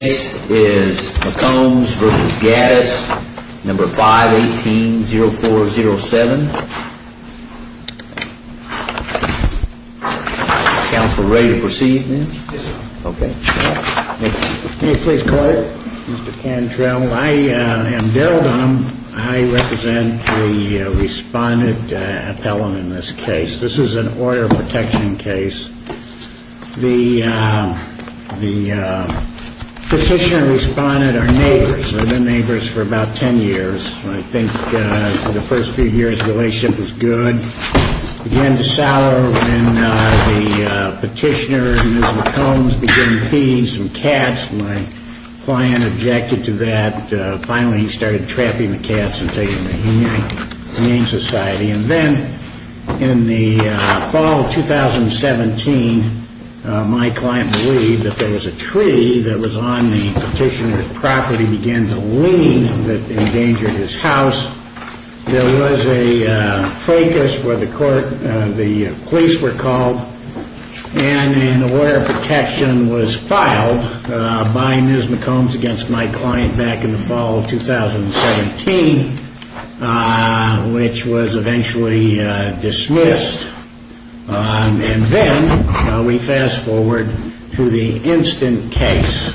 This is McCombs v. Gaddis, No. 518-0407. Counsel, ready to proceed, then? Yes, sir. Okay. May I please call you? Mr. Cantrell. I am Darrell Dunham. I represent the respondent appellant in this case. This is an order of protection case. The petitioner respondent are neighbors. They've been neighbors for about 10 years. I think the first few years' relationship was good. It began to sour when the petitioner, Ms. McCombs, began feeding some cats. My client objected to that. Finally, he started trapping the cats and taking them to the Humane Society. Then, in the fall of 2017, my client believed that there was a tree that was on the petitioner's property and began to lean that endangered his house. There was a fracas where the police were called, and an order of protection was filed by Ms. McCombs against my client back in the fall of 2017, which was eventually dismissed. And then we fast forward to the instant case.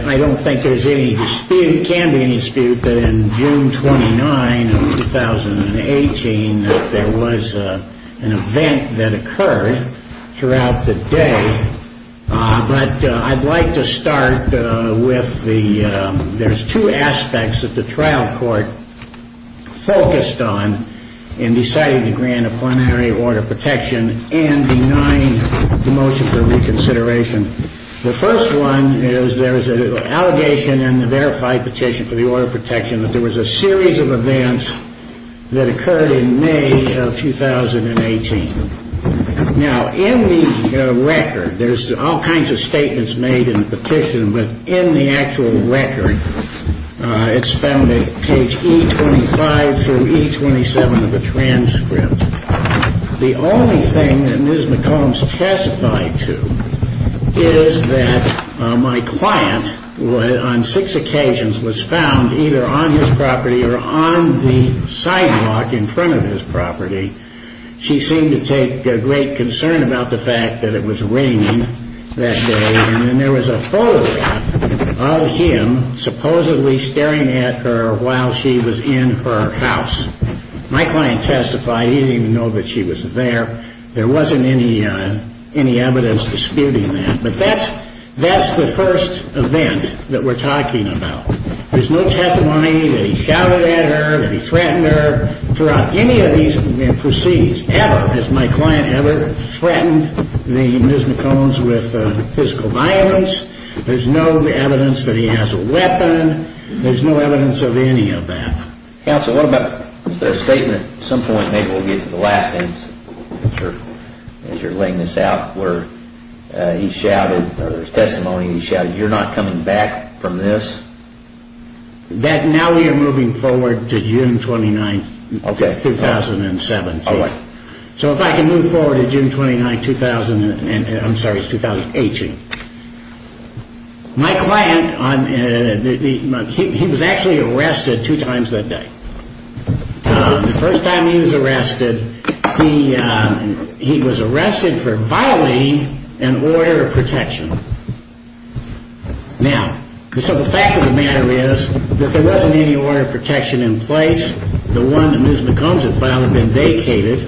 I don't think there's any dispute, can be any dispute, that in June 29 of 2018, that there was an event that occurred throughout the day. But I'd like to start with the, there's two aspects that the trial court focused on in deciding to grant a plenary order of protection and denying the motion for reconsideration. The first one is there is an allegation in the verified petition for the order of protection that there was a series of events that occurred in May of 2018. Now, in the record, there's all kinds of statements made in the petition, but in the actual record, it's found at page E25 through E27 of the transcript. The only thing that Ms. McCombs testified to is that my client, on six occasions, was found either on his property or on the sidewalk in front of his property. She seemed to take great concern about the fact that it was raining that day, and then there was a photograph of him supposedly staring at her while she was in her house. My client testified he didn't even know that she was there. There wasn't any evidence disputing that. But that's the first event that we're talking about. There's no testimony that he shouted at her, that he threatened her. Throughout any of these proceedings ever has my client ever threatened Ms. McCombs with physical violence. There's no evidence that he has a weapon. There's no evidence of any of that. Counsel, what about the statement at some point, maybe we'll get to the last thing as you're laying this out, where he shouted, or his testimony, he shouted, you're not coming back from this? Now we are moving forward to June 29th, 2017. So if I can move forward to June 29th, 2018. My client, he was actually arrested two times that day. The first time he was arrested, he was arrested for violating an order of protection. Now, so the fact of the matter is that there wasn't any order of protection in place. The one that Ms. McCombs had filed had been vacated.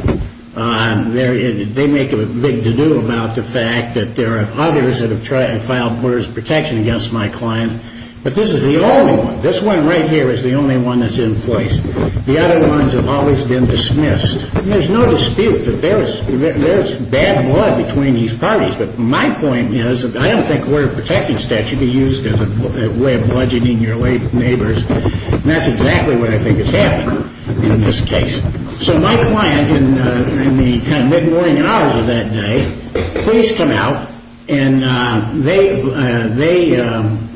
They make a big dedual about the fact that there are others that have filed orders of protection against my client. But this is the only one. This one right here is the only one that's in place. The other ones have always been dismissed. There's no dispute that there is bad blood between these parties. But my point is, I don't think an order of protection statute would be used as a way of bludgeoning your neighbors. And that's exactly what I think has happened in this case. So my client, in the mid-morning hours of that day, police come out, and they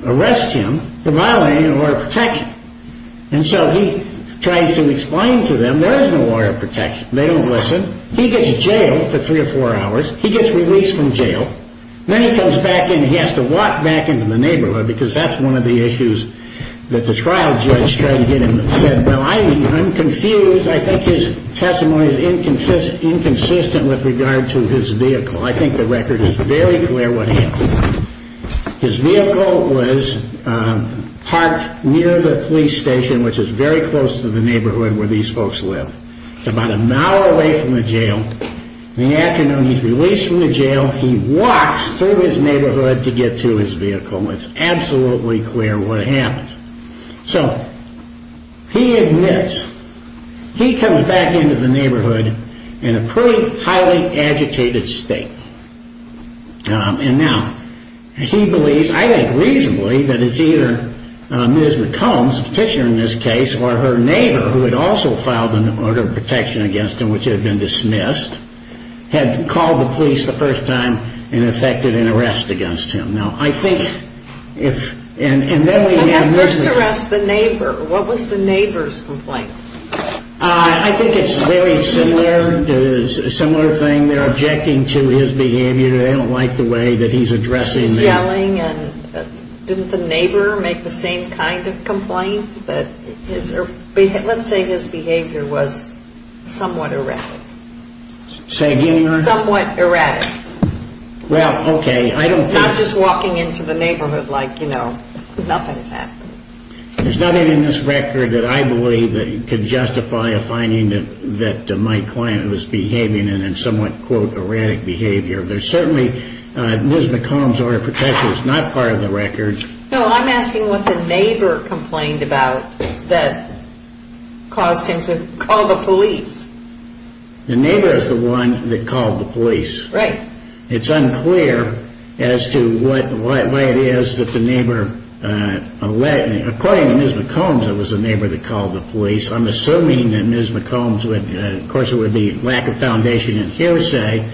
arrest him for violating an order of protection. And so he tries to explain to them there is no order of protection. They don't listen. He gets jailed for three or four hours. He gets released from jail. Then he comes back in. He has to walk back into the neighborhood because that's one of the issues that the trial judge tried to get him. He said, well, I'm confused. I think his testimony is inconsistent with regard to his vehicle. I think the record is very clear what happened. His vehicle was parked near the police station, which is very close to the neighborhood where these folks live. It's about an hour away from the jail. In the afternoon, he's released from the jail. He walks through his neighborhood to get to his vehicle, and it's absolutely clear what happened. So he admits he comes back into the neighborhood in a pretty highly agitated state. And now he believes, I think reasonably, that it's either Ms. McCombs, the petitioner in this case, or her neighbor, who had also filed an order of protection against him, which had been dismissed, had called the police the first time and effected an arrest against him. Now, I think if – and then we have – When they first arrest the neighbor, what was the neighbor's complaint? I think it's very similar. It's a similar thing. They're objecting to his behavior. They don't like the way that he's addressing them. Didn't the neighbor make the same kind of complaint? Let's say his behavior was somewhat erratic. Say again? Somewhat erratic. Well, okay. Not just walking into the neighborhood like, you know, nothing's happened. There's nothing in this record that I believe could justify a finding that my client was behaving in a somewhat, quote, erratic behavior. There's certainly – Ms. McCombs' order of protection is not part of the record. No, I'm asking what the neighbor complained about that caused him to call the police. The neighbor is the one that called the police. Right. It's unclear as to what it is that the neighbor – according to Ms. McCombs, it was the neighbor that called the police. I'm assuming that Ms. McCombs would – of course, it would be lack of foundation and hearsay.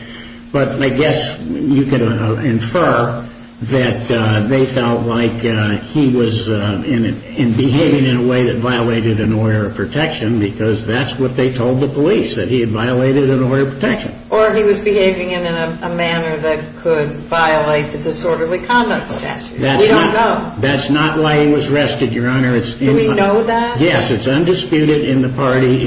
But I guess you could infer that they felt like he was behaving in a way that violated an order of protection because that's what they told the police, that he had violated an order of protection. Or he was behaving in a manner that could violate the disorderly conduct statute. We don't know. That's not why he was arrested, Your Honor. Do we know that? Yes, it's undisputed in the party.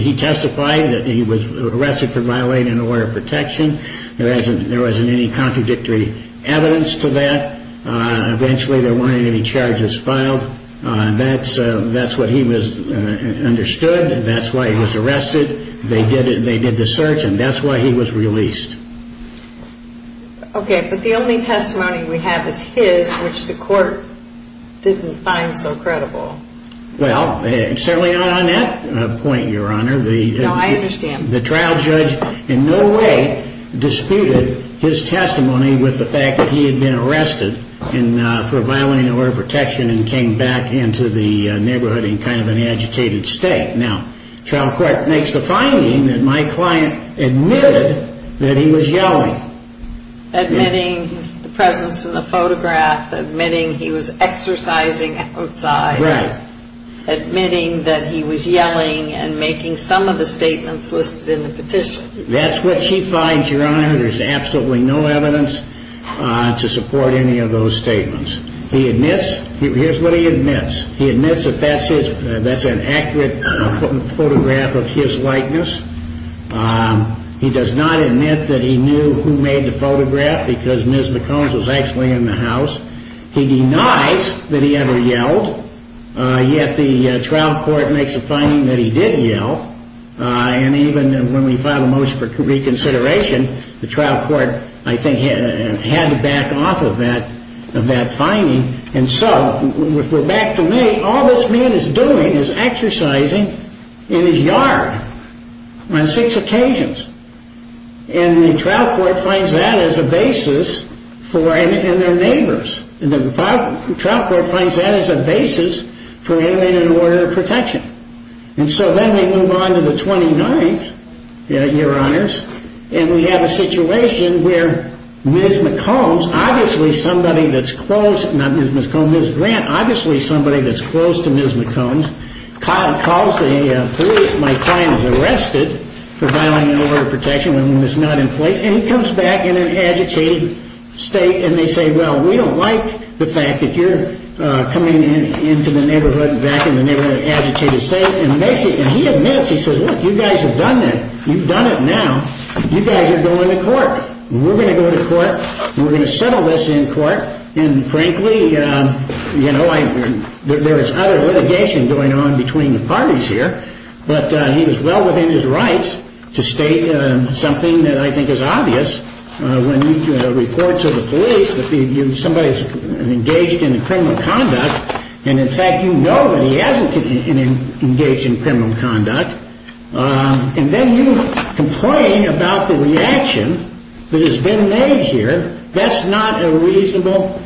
He testified that he was arrested for violating an order of protection. There wasn't any contradictory evidence to that. Eventually, there weren't any charges filed. That's what he understood. That's why he was arrested. They did the search, and that's why he was released. Okay, but the only testimony we have is his, which the court didn't find so credible. Well, certainly not on that point, Your Honor. No, I understand. The trial judge in no way disputed his testimony with the fact that he had been arrested for violating an order of protection and came back into the neighborhood in kind of an agitated state. Now, trial court makes the finding that my client admitted that he was yelling. Admitting the presence in the photograph, admitting he was exercising outside. Admitting that he was yelling and making some of the statements listed in the petition. That's what she finds, Your Honor. There's absolutely no evidence to support any of those statements. Here's what he admits. He admits that that's an accurate photograph of his likeness. He does not admit that he knew who made the photograph because Ms. McCones was actually in the house. He denies that he ever yelled, yet the trial court makes a finding that he did yell. And even when we filed a motion for reconsideration, the trial court, I think, had to back off of that finding. And so, if we're back to me, all this man is doing is exercising in his yard on six occasions. And the trial court finds that as a basis for him and their neighbors. And the trial court finds that as a basis for alienating an order of protection. And so then we move on to the 29th, Your Honors, and we have a situation where Ms. McCones, obviously somebody that's close, not Ms. McCones, Ms. Grant, obviously somebody that's close to Ms. McCones, calls the police. My client is arrested for violating an order of protection when it's not in place. And he comes back in an agitated state and they say, well, we don't like the fact that you're coming into the neighborhood, back in the neighborhood in an agitated state. And he admits, he says, look, you guys have done that. You've done it now. You guys are going to court. We're going to go to court. We're going to settle this in court. And frankly, you know, there is other litigation going on between the parties here, but he was well within his rights to state something that I think is obvious. When he reports to the police that somebody's engaged in criminal conduct, and in fact you know that he hasn't engaged in criminal conduct, and then you complain about the reaction that has been made here. That's not a reasonable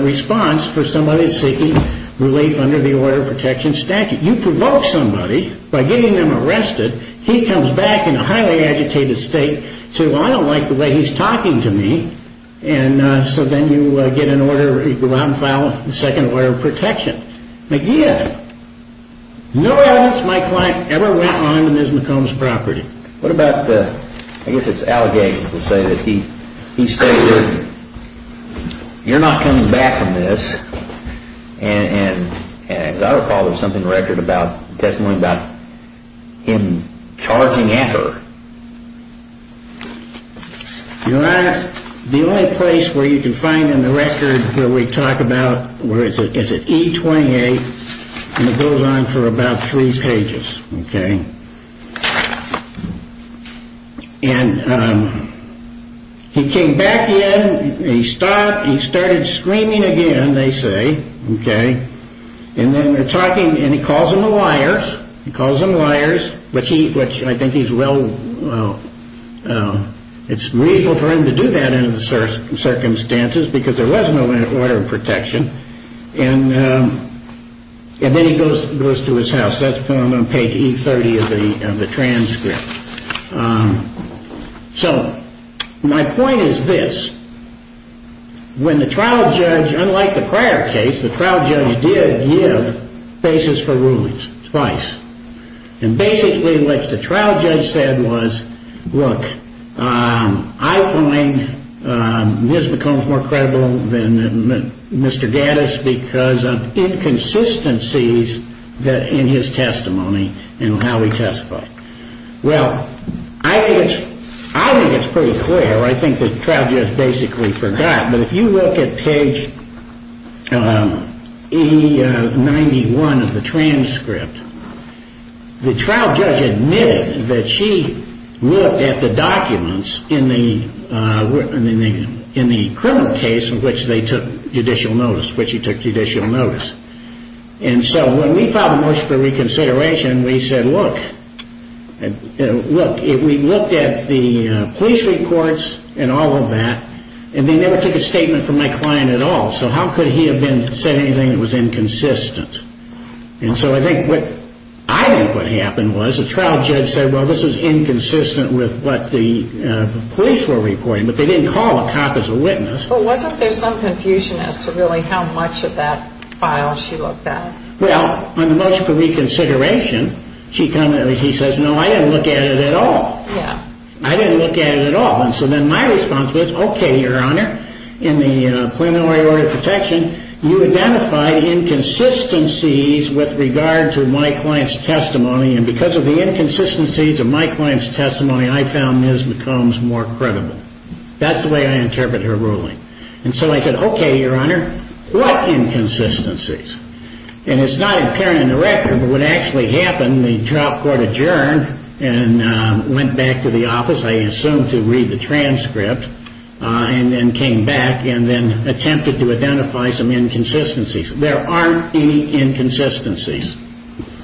response for somebody seeking relief under the order of protection statute. You provoke somebody by getting them arrested. He comes back in a highly agitated state to say, well, I don't like the way he's talking to me. And so then you get an order, you go out and file a second order of protection. McGeehan, no evidence my client ever went on in Ms. McCone's property. What about the, I guess it's allegations to say that he stated, you're not coming back from this. And as I recall, there's something in the record about testimony about him charging at her. Your Honor, the only place where you can find in the record where we talk about, where it's at E28, and it goes on for about three pages. Okay. And he came back in, he stopped, he started screaming again, they say. Okay. And then they're talking, and he calls them liars. He calls them liars, which I think he's well, it's reasonable for him to do that under the circumstances because there was no order of protection. And then he goes to his house. That's when I'm going to page E30 of the transcript. So my point is this. When the trial judge, unlike the prior case, the trial judge did give basis for rulings twice. And basically what the trial judge said was, look, I find this becomes more credible than Mr. Gaddis because of inconsistencies in his testimony and how he testified. Well, I think it's pretty clear. I think the trial judge basically forgot. But if you look at page E91 of the transcript, the trial judge admitted that she looked at the documents in the criminal case in which they took judicial notice, which he took judicial notice. And so when we filed a motion for reconsideration, we said, look, we looked at the police reports and all of that, and they never took a statement from my client at all. So how could he have said anything that was inconsistent? And so I think what I think what happened was the trial judge said, well, this is inconsistent with what the police were reporting. But they didn't call the cop as a witness. But wasn't there some confusion as to really how much of that file she looked at? Well, on the motion for reconsideration, he says, no, I didn't look at it at all. I didn't look at it at all. And so then my response was, OK, Your Honor, in the plenary order of protection, you identified inconsistencies with regard to my client's testimony. And because of the inconsistencies of my client's testimony, I found Ms. McCombs more credible. That's the way I interpret her ruling. And so I said, OK, Your Honor, what inconsistencies? And it's not apparent in the record, but what actually happened, the trial court adjourned and went back to the office, I assume, to read the transcript and then came back and then attempted to identify some inconsistencies. There aren't any inconsistencies.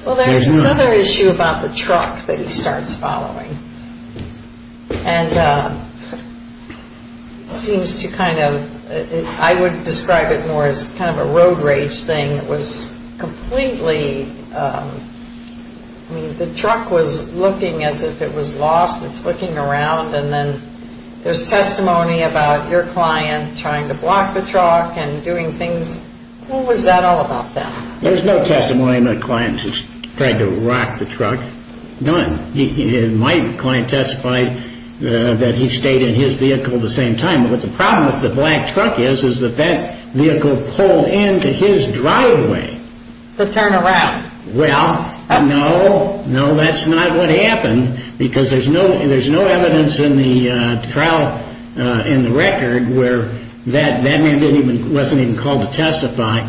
Well, there's this other issue about the truck that he starts following and seems to kind of, I would describe it more as kind of a road rage thing. It was completely, I mean, the truck was looking as if it was lost. It's looking around. And then there's testimony about your client trying to block the truck and doing things. What was that all about then? There's no testimony of my client just trying to rock the truck. None. My client testified that he stayed in his vehicle at the same time. But the problem with the black truck is that that vehicle pulled into his driveway. To turn around. Well, no, no, that's not what happened because there's no evidence in the record where that man wasn't even called to testify.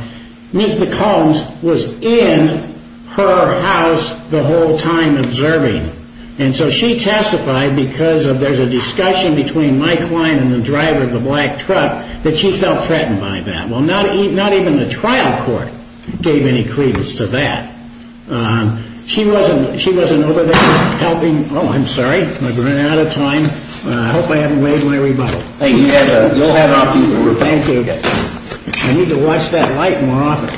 Ms. McCombs was in her house the whole time observing. And so she testified because there's a discussion between my client and the driver of the black truck that she felt threatened by that. Well, not even the trial court gave any credence to that. She wasn't over there helping. Oh, I'm sorry. I've run out of time. I hope I haven't waived my rebuttal. Thank you. Thank you. I need to watch that light more often.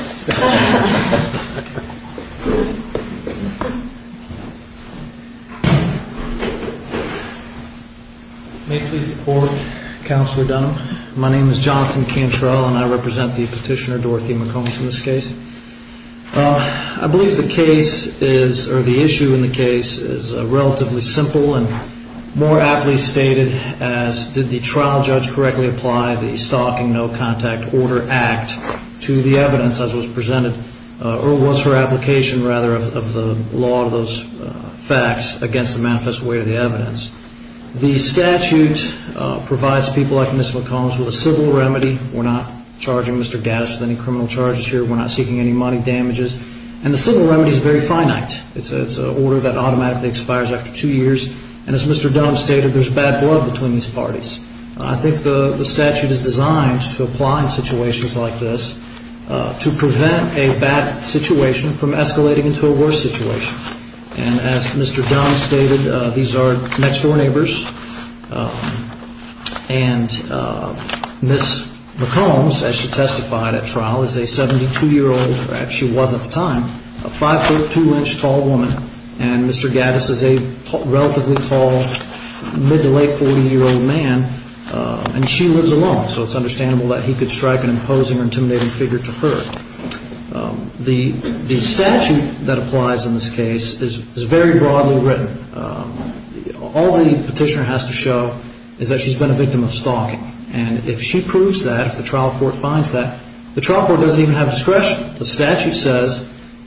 May I please report, Counselor Dunham? My name is Jonathan Cantrell and I represent the petitioner, Dorothy McCombs, in this case. I believe the issue in the case is relatively simple and more aptly stated as did the trial judge correctly apply the Stalking No Contact Order Act to the evidence as was presented, or was her application, rather, of the law of those facts against the manifest way of the evidence. The statute provides people like Ms. McCombs with a civil remedy. We're not charging Mr. Gaddis with any criminal charges here. We're not seeking any money damages. And the civil remedy is very finite. It's an order that automatically expires after two years. And as Mr. Dunham stated, there's bad blood between these parties. I think the statute is designed to apply in situations like this to prevent a bad situation from escalating into a worse situation. And as Mr. Dunham stated, these are next-door neighbors. And Ms. McCombs, as she testified at trial, is a 72-year-old, or actually was at the time, a 5'2-inch tall woman. And Mr. Gaddis is a relatively tall, mid-to-late 40-year-old man. And she lives alone, so it's understandable that he could strike an imposing or intimidating figure to her. The statute that applies in this case is very broadly written. All the petitioner has to show is that she's been a victim of stalking. And if she proves that, if the trial court finds that, the trial court doesn't even have discretion. The statute says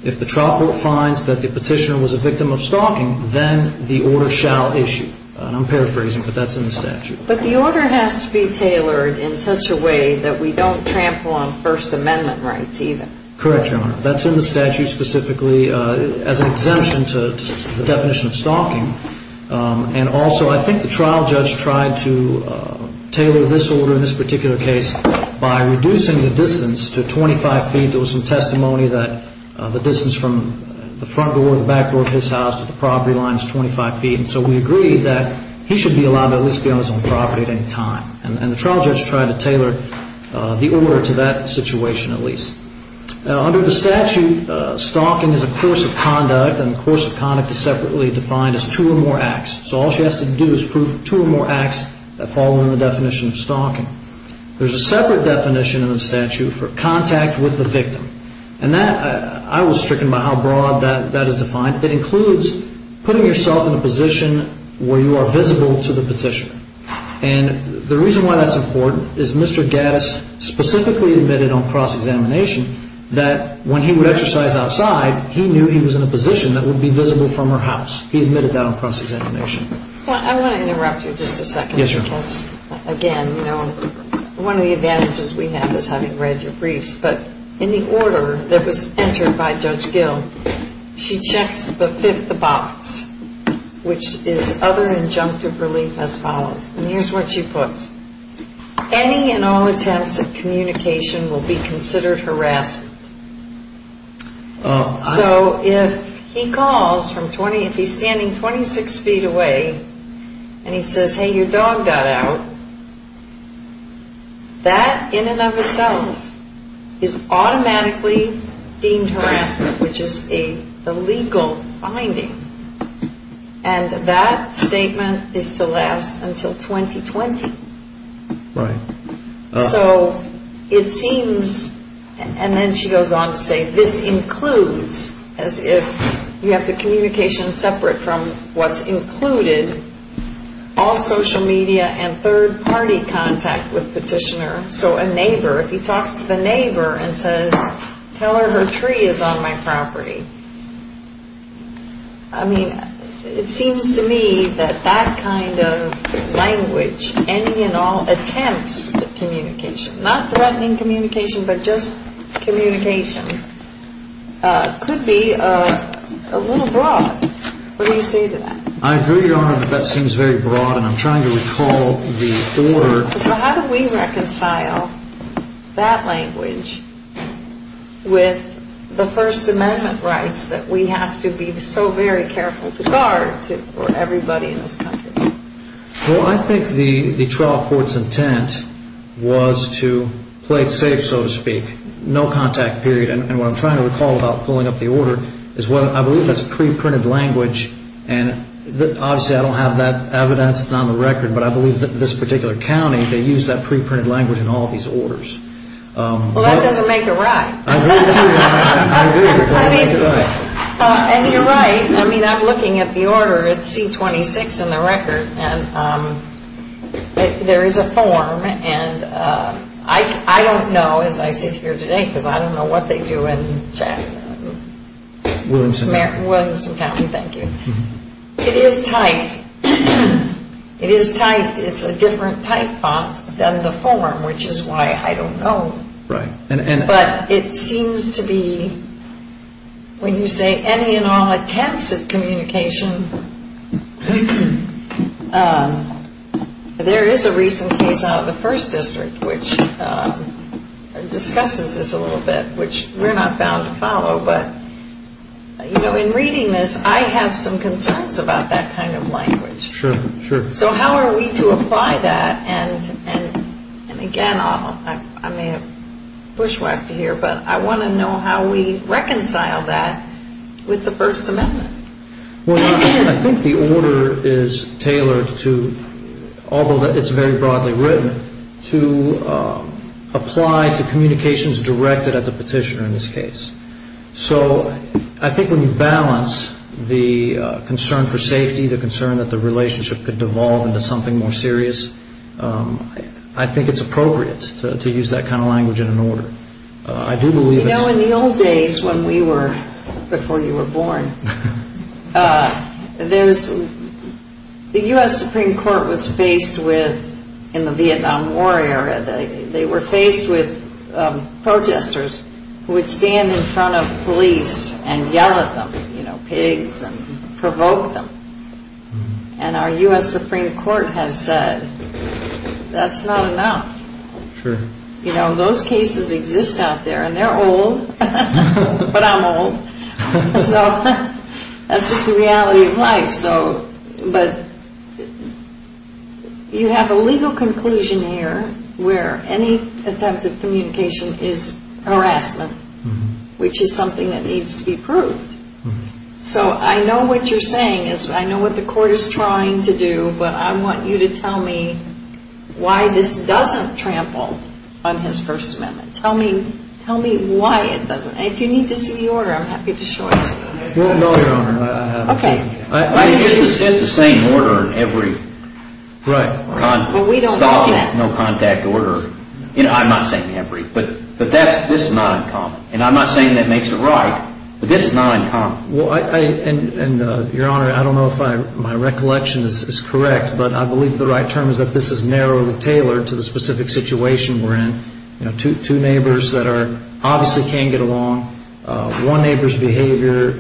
if the trial court finds that the petitioner was a victim of stalking, then the order shall issue. And I'm paraphrasing, but that's in the statute. But the order has to be tailored in such a way that we don't trample on First Amendment rights, even. Correct, Your Honor. That's in the statute specifically as an exemption to the definition of stalking. And also, I think the trial judge tried to tailor this order in this particular case by reducing the distance to 25 feet. There was some testimony that the distance from the front door to the back door of his house to the property line is 25 feet. And so we agreed that he should be allowed to at least be on his own property at any time. And the trial judge tried to tailor the order to that situation, at least. Under the statute, stalking is a course of conduct, and the course of conduct is separately defined as two or more acts. So all she has to do is prove two or more acts that fall under the definition of stalking. There's a separate definition in the statute for contact with the victim. And that, I was stricken by how broad that is defined. It includes putting yourself in a position where you are visible to the petitioner. And the reason why that's important is Mr. Gaddis specifically admitted on cross-examination that when he would exercise outside, he knew he was in a position that would be visible from her house. He admitted that on cross-examination. Well, I want to interrupt you just a second. Yes, Your Honor. Because, again, one of the advantages we have is having read your briefs. But in the order that was entered by Judge Gill, she checks the fifth box, which is other injunctive relief as follows. And here's what she puts. Any and all attempts at communication will be considered harassment. So if he calls from 20, if he's standing 26 feet away and he says, hey, your dog got out, that in and of itself is automatically deemed harassment, which is an illegal finding. And that statement is to last until 2020. Right. So it seems, and then she goes on to say, this includes, as if you have the communication separate from what's included, all social media and third-party contact with petitioner. So a neighbor, if he talks to the neighbor and says, tell her her tree is on my property. I mean, it seems to me that that kind of language, any and all attempts at communication, not threatening communication but just communication, could be a little broad. What do you say to that? I agree, Your Honor, that that seems very broad. And I'm trying to recall the order. So how do we reconcile that language with the First Amendment rights that we have to be so very careful to guard for everybody in this country? Well, I think the trial court's intent was to play it safe, so to speak, no contact period. And what I'm trying to recall about pulling up the order is I believe that's preprinted language. And obviously I don't have that evidence. It's not on the record. But I believe that this particular county, they used that preprinted language in all these orders. Well, that doesn't make it right. I agree. And you're right. I mean, I'm looking at the order. It's C-26 in the record. And there is a form. And I don't know, as I sit here today, because I don't know what they do in Jackson. Williamson County. Williamson County, thank you. It is typed. It is typed. It's a different type font than the form, which is why I don't know. Right. But it seems to be, when you say any and all attempts at communication, there is a recent case out of the 1st District, which discusses this a little bit, which we're not bound to follow. But, you know, in reading this, I have some concerns about that kind of language. Sure, sure. So how are we to apply that? And, again, I may have bushwhacked you here, but I want to know how we reconcile that with the First Amendment. Well, I think the order is tailored to, although it's very broadly written, to apply to communications directed at the petitioner in this case. So I think when you balance the concern for safety, the concern that the relationship could devolve into something more serious, I think it's appropriate to use that kind of language in an order. You know, in the old days when we were, before you were born, the U.S. Supreme Court was faced with, in the Vietnam War era, they were faced with protesters who would stand in front of police and yell at them, you know, pigs, and provoke them. And our U.S. Supreme Court has said that's not enough. Sure. You know, those cases exist out there, and they're old, but I'm old. So that's just the reality of life. But you have a legal conclusion here where any attempt at communication is harassment, which is something that needs to be proved. So I know what you're saying. I know what the court is trying to do, but I want you to tell me why this doesn't trample on his First Amendment. Tell me why it doesn't. If you need to see the order, I'm happy to show it to you. Well, no, Your Honor. Okay. It's the same order in every stocking. Well, we don't want that. No contact order. You know, I'm not saying every, but this is not uncommon. And I'm not saying that makes it right, but this is not uncommon. And, Your Honor, I don't know if my recollection is correct, but I believe the right term is that this is narrowly tailored to the specific situation we're in. You know, two neighbors that obviously can't get along. One neighbor's behavior,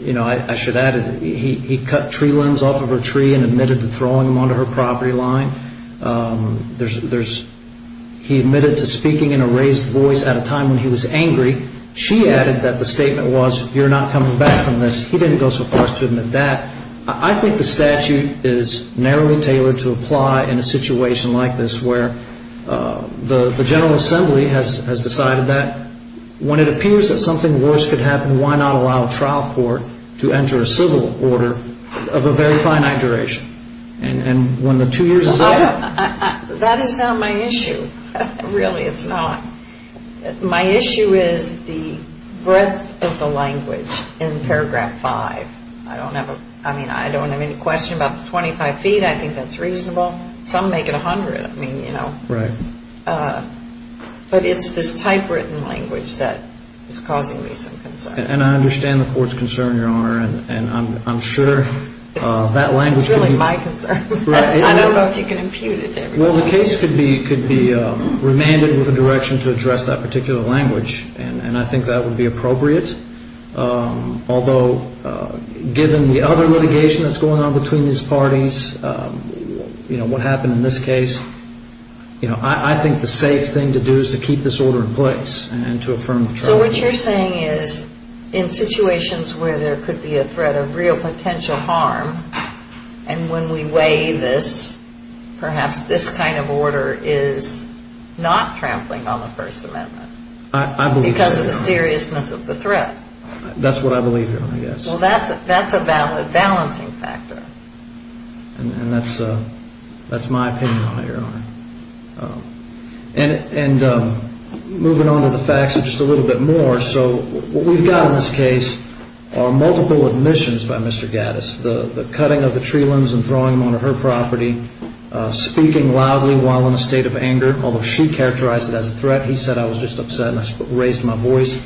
you know, I should add, he cut tree limbs off of her tree and admitted to throwing them onto her property line. He admitted to speaking in a raised voice at a time when he was angry. She added that the statement was, you're not coming back from this. He didn't go so far as to admit that. I think the statute is narrowly tailored to apply in a situation like this where the General Assembly has decided that when it appears that something worse could happen, why not allow a trial court to enter a civil order of a very finite duration? And when the two years is up. That is not my issue. Really, it's not. My issue is the breadth of the language in paragraph five. I don't have a, I mean, I don't have any question about the 25 feet. I think that's reasonable. Some make it 100. I mean, you know. Right. But it's this typewritten language that is causing me some concern. And I understand the court's concern, Your Honor, and I'm sure that language could be. It's really my concern. I don't know if you can impute it to everybody. Well, the case could be remanded with a direction to address that particular language, and I think that would be appropriate. Although, given the other litigation that's going on between these parties, you know, what happened in this case, you know, I think the safe thing to do is to keep this order in place and to affirm the charge. So what you're saying is in situations where there could be a threat of real potential harm, and when we weigh this, perhaps this kind of order is not trampling on the First Amendment. I believe so, Your Honor. Because of the seriousness of the threat. That's what I believe, Your Honor, yes. Well, that's a valid balancing factor. And that's my opinion on it, Your Honor. And moving on to the facts just a little bit more. So what we've got in this case are multiple admissions by Mr. Gaddis. The cutting of the tree limbs and throwing them onto her property. Speaking loudly while in a state of anger, although she characterized it as a threat. He said, I was just upset and I raised my voice.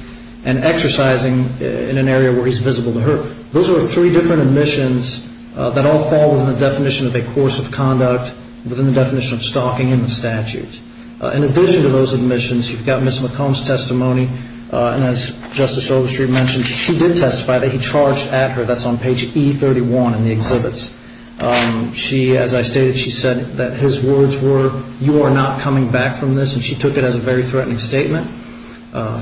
And exercising in an area where he's visible to her. Those are three different admissions that all fall within the definition of a course of conduct, within the definition of stalking in the statute. In addition to those admissions, you've got Ms. McComb's testimony. And as Justice Overstreet mentioned, she did testify that he charged at her. That's on page E31 in the exhibits. She, as I stated, she said that his words were, you are not coming back from this. And she took it as a very threatening statement.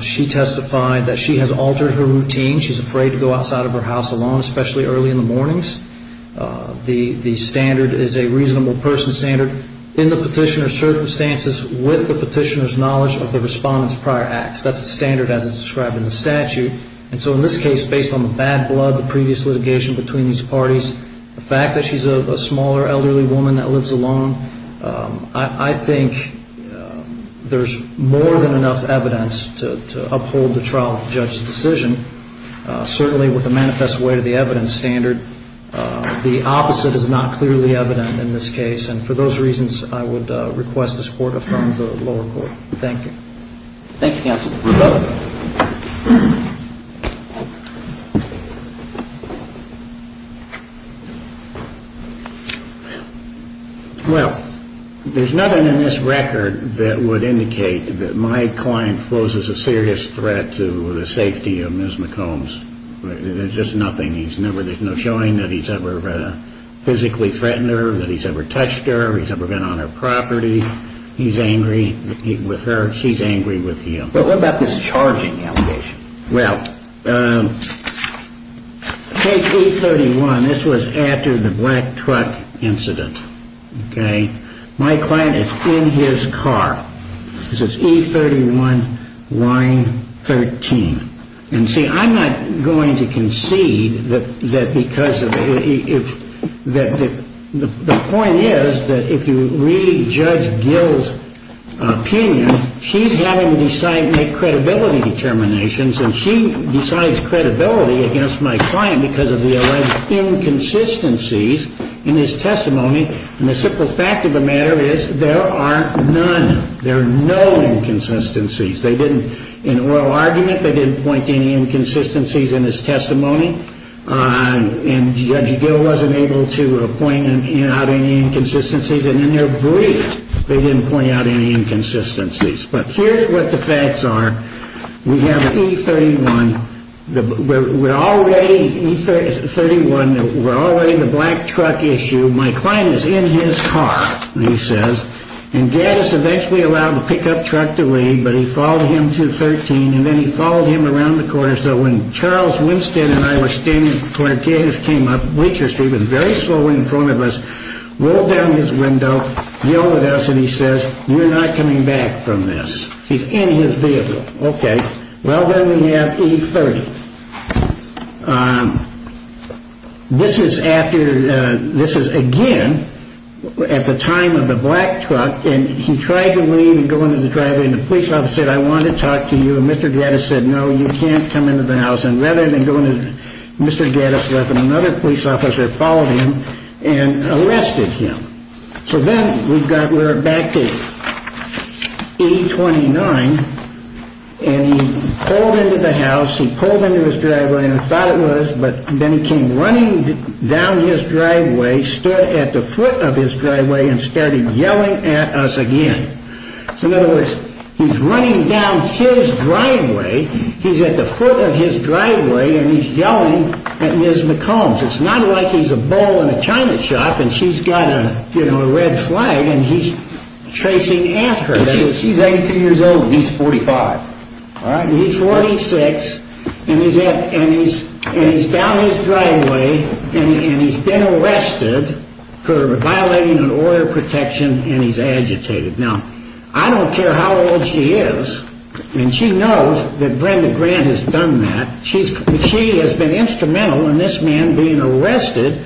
She testified that she has altered her routine. She's afraid to go outside of her house alone, especially early in the mornings. The standard is a reasonable person standard in the petitioner's circumstances with the petitioner's knowledge of the respondent's prior acts. That's the standard as it's described in the statute. And so in this case, based on the bad blood, the previous litigation between these parties, the fact that she's a smaller elderly woman that lives alone, I think there's more than enough evidence to uphold the trial judge's decision. Certainly with a manifest way to the evidence standard, the opposite is not clearly evident in this case. And for those reasons, I would request the support of the lower court. Thank you. Thanks, counsel. Well, there's nothing in this record that would indicate that my client poses a serious threat to the safety of Ms. McCombs. There's just nothing. There's no showing that he's ever physically threatened her, that he's ever touched her, he's ever been on her property, he's angry with her. She's angry with him. What about this charging allegation? Well, take E31. This was after the black truck incident. Okay. My client is in his car. This is E31, line 13. And see, I'm not going to concede that because of the point is that if you really judge Gil's opinion, she's having to decide and make credibility determinations, and she decides credibility against my client because of the alleged inconsistencies in his testimony. And the simple fact of the matter is there are none. There are no inconsistencies. In oral argument, they didn't point to any inconsistencies in his testimony. And Judge Gil wasn't able to point out any inconsistencies. And in their brief, they didn't point out any inconsistencies. But here's what the facts are. We have E31. We're already, E31, we're already the black truck issue. My client is in his car, he says. And Gaddis eventually allowed the pickup truck to leave, but he followed him to 13, and then he followed him around the corner. So when Charles Winston and I were standing where Gaddis came up Bleacher Street, he was very slow in front of us, rolled down his window, yelled at us, and he says, you're not coming back from this. He's in his vehicle. Okay. Well, then we have E30. This is after, this is again at the time of the black truck, and he tried to leave and go into the driveway, and the police officer said, I want to talk to you, and Mr. Gaddis said, no, you can't come into the house. And rather than going to Mr. Gaddis' house, another police officer followed him and arrested him. So then we're back to E29, and he pulled into the house, he pulled into his driveway, and he thought it was, but then he came running down his driveway, stood at the foot of his driveway, and started yelling at us again. So in other words, he's running down his driveway, he's at the foot of his driveway, and he's yelling at Ms. McCombs. It's not like he's a bull in a china shop, and she's got a red flag, and he's chasing at her. She's 82 years old, and he's 45. He's 46, and he's down his driveway, and he's been arrested for violating an order of protection, and he's agitated. Now, I don't care how old she is, and she knows that Brenda Grant has done that. She has been instrumental in this man being arrested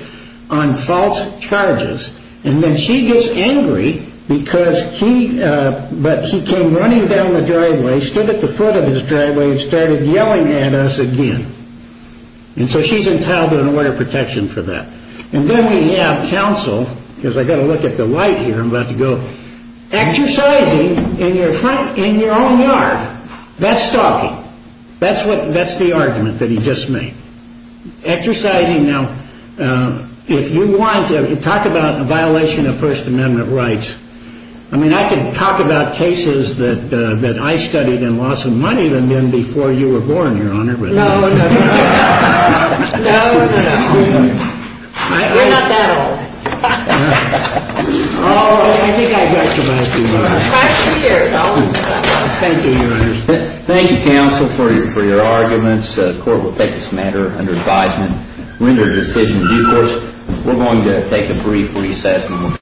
on false charges. And then she gets angry because he, but he came running down the driveway, stood at the foot of his driveway, and started yelling at us again. And so she's entitled to an order of protection for that. And then we have counsel, because I've got to look at the light here, I'm about to go. Exercising in your front, in your own yard. That's stalking. That's what, that's the argument that he just made. Exercising, now, if you want to talk about a violation of First Amendment rights, I mean, I could talk about cases that I studied in Laws of Money than before you were born, Your Honor. No, no, no, no. No, no, no. You're not that old. Oh, I think I've got you, my dear. Five years old. Thank you, Your Honor. Thank you, counsel, for your arguments. The court will take this matter under advisement, render a decision in due course. We're going to take a brief recess.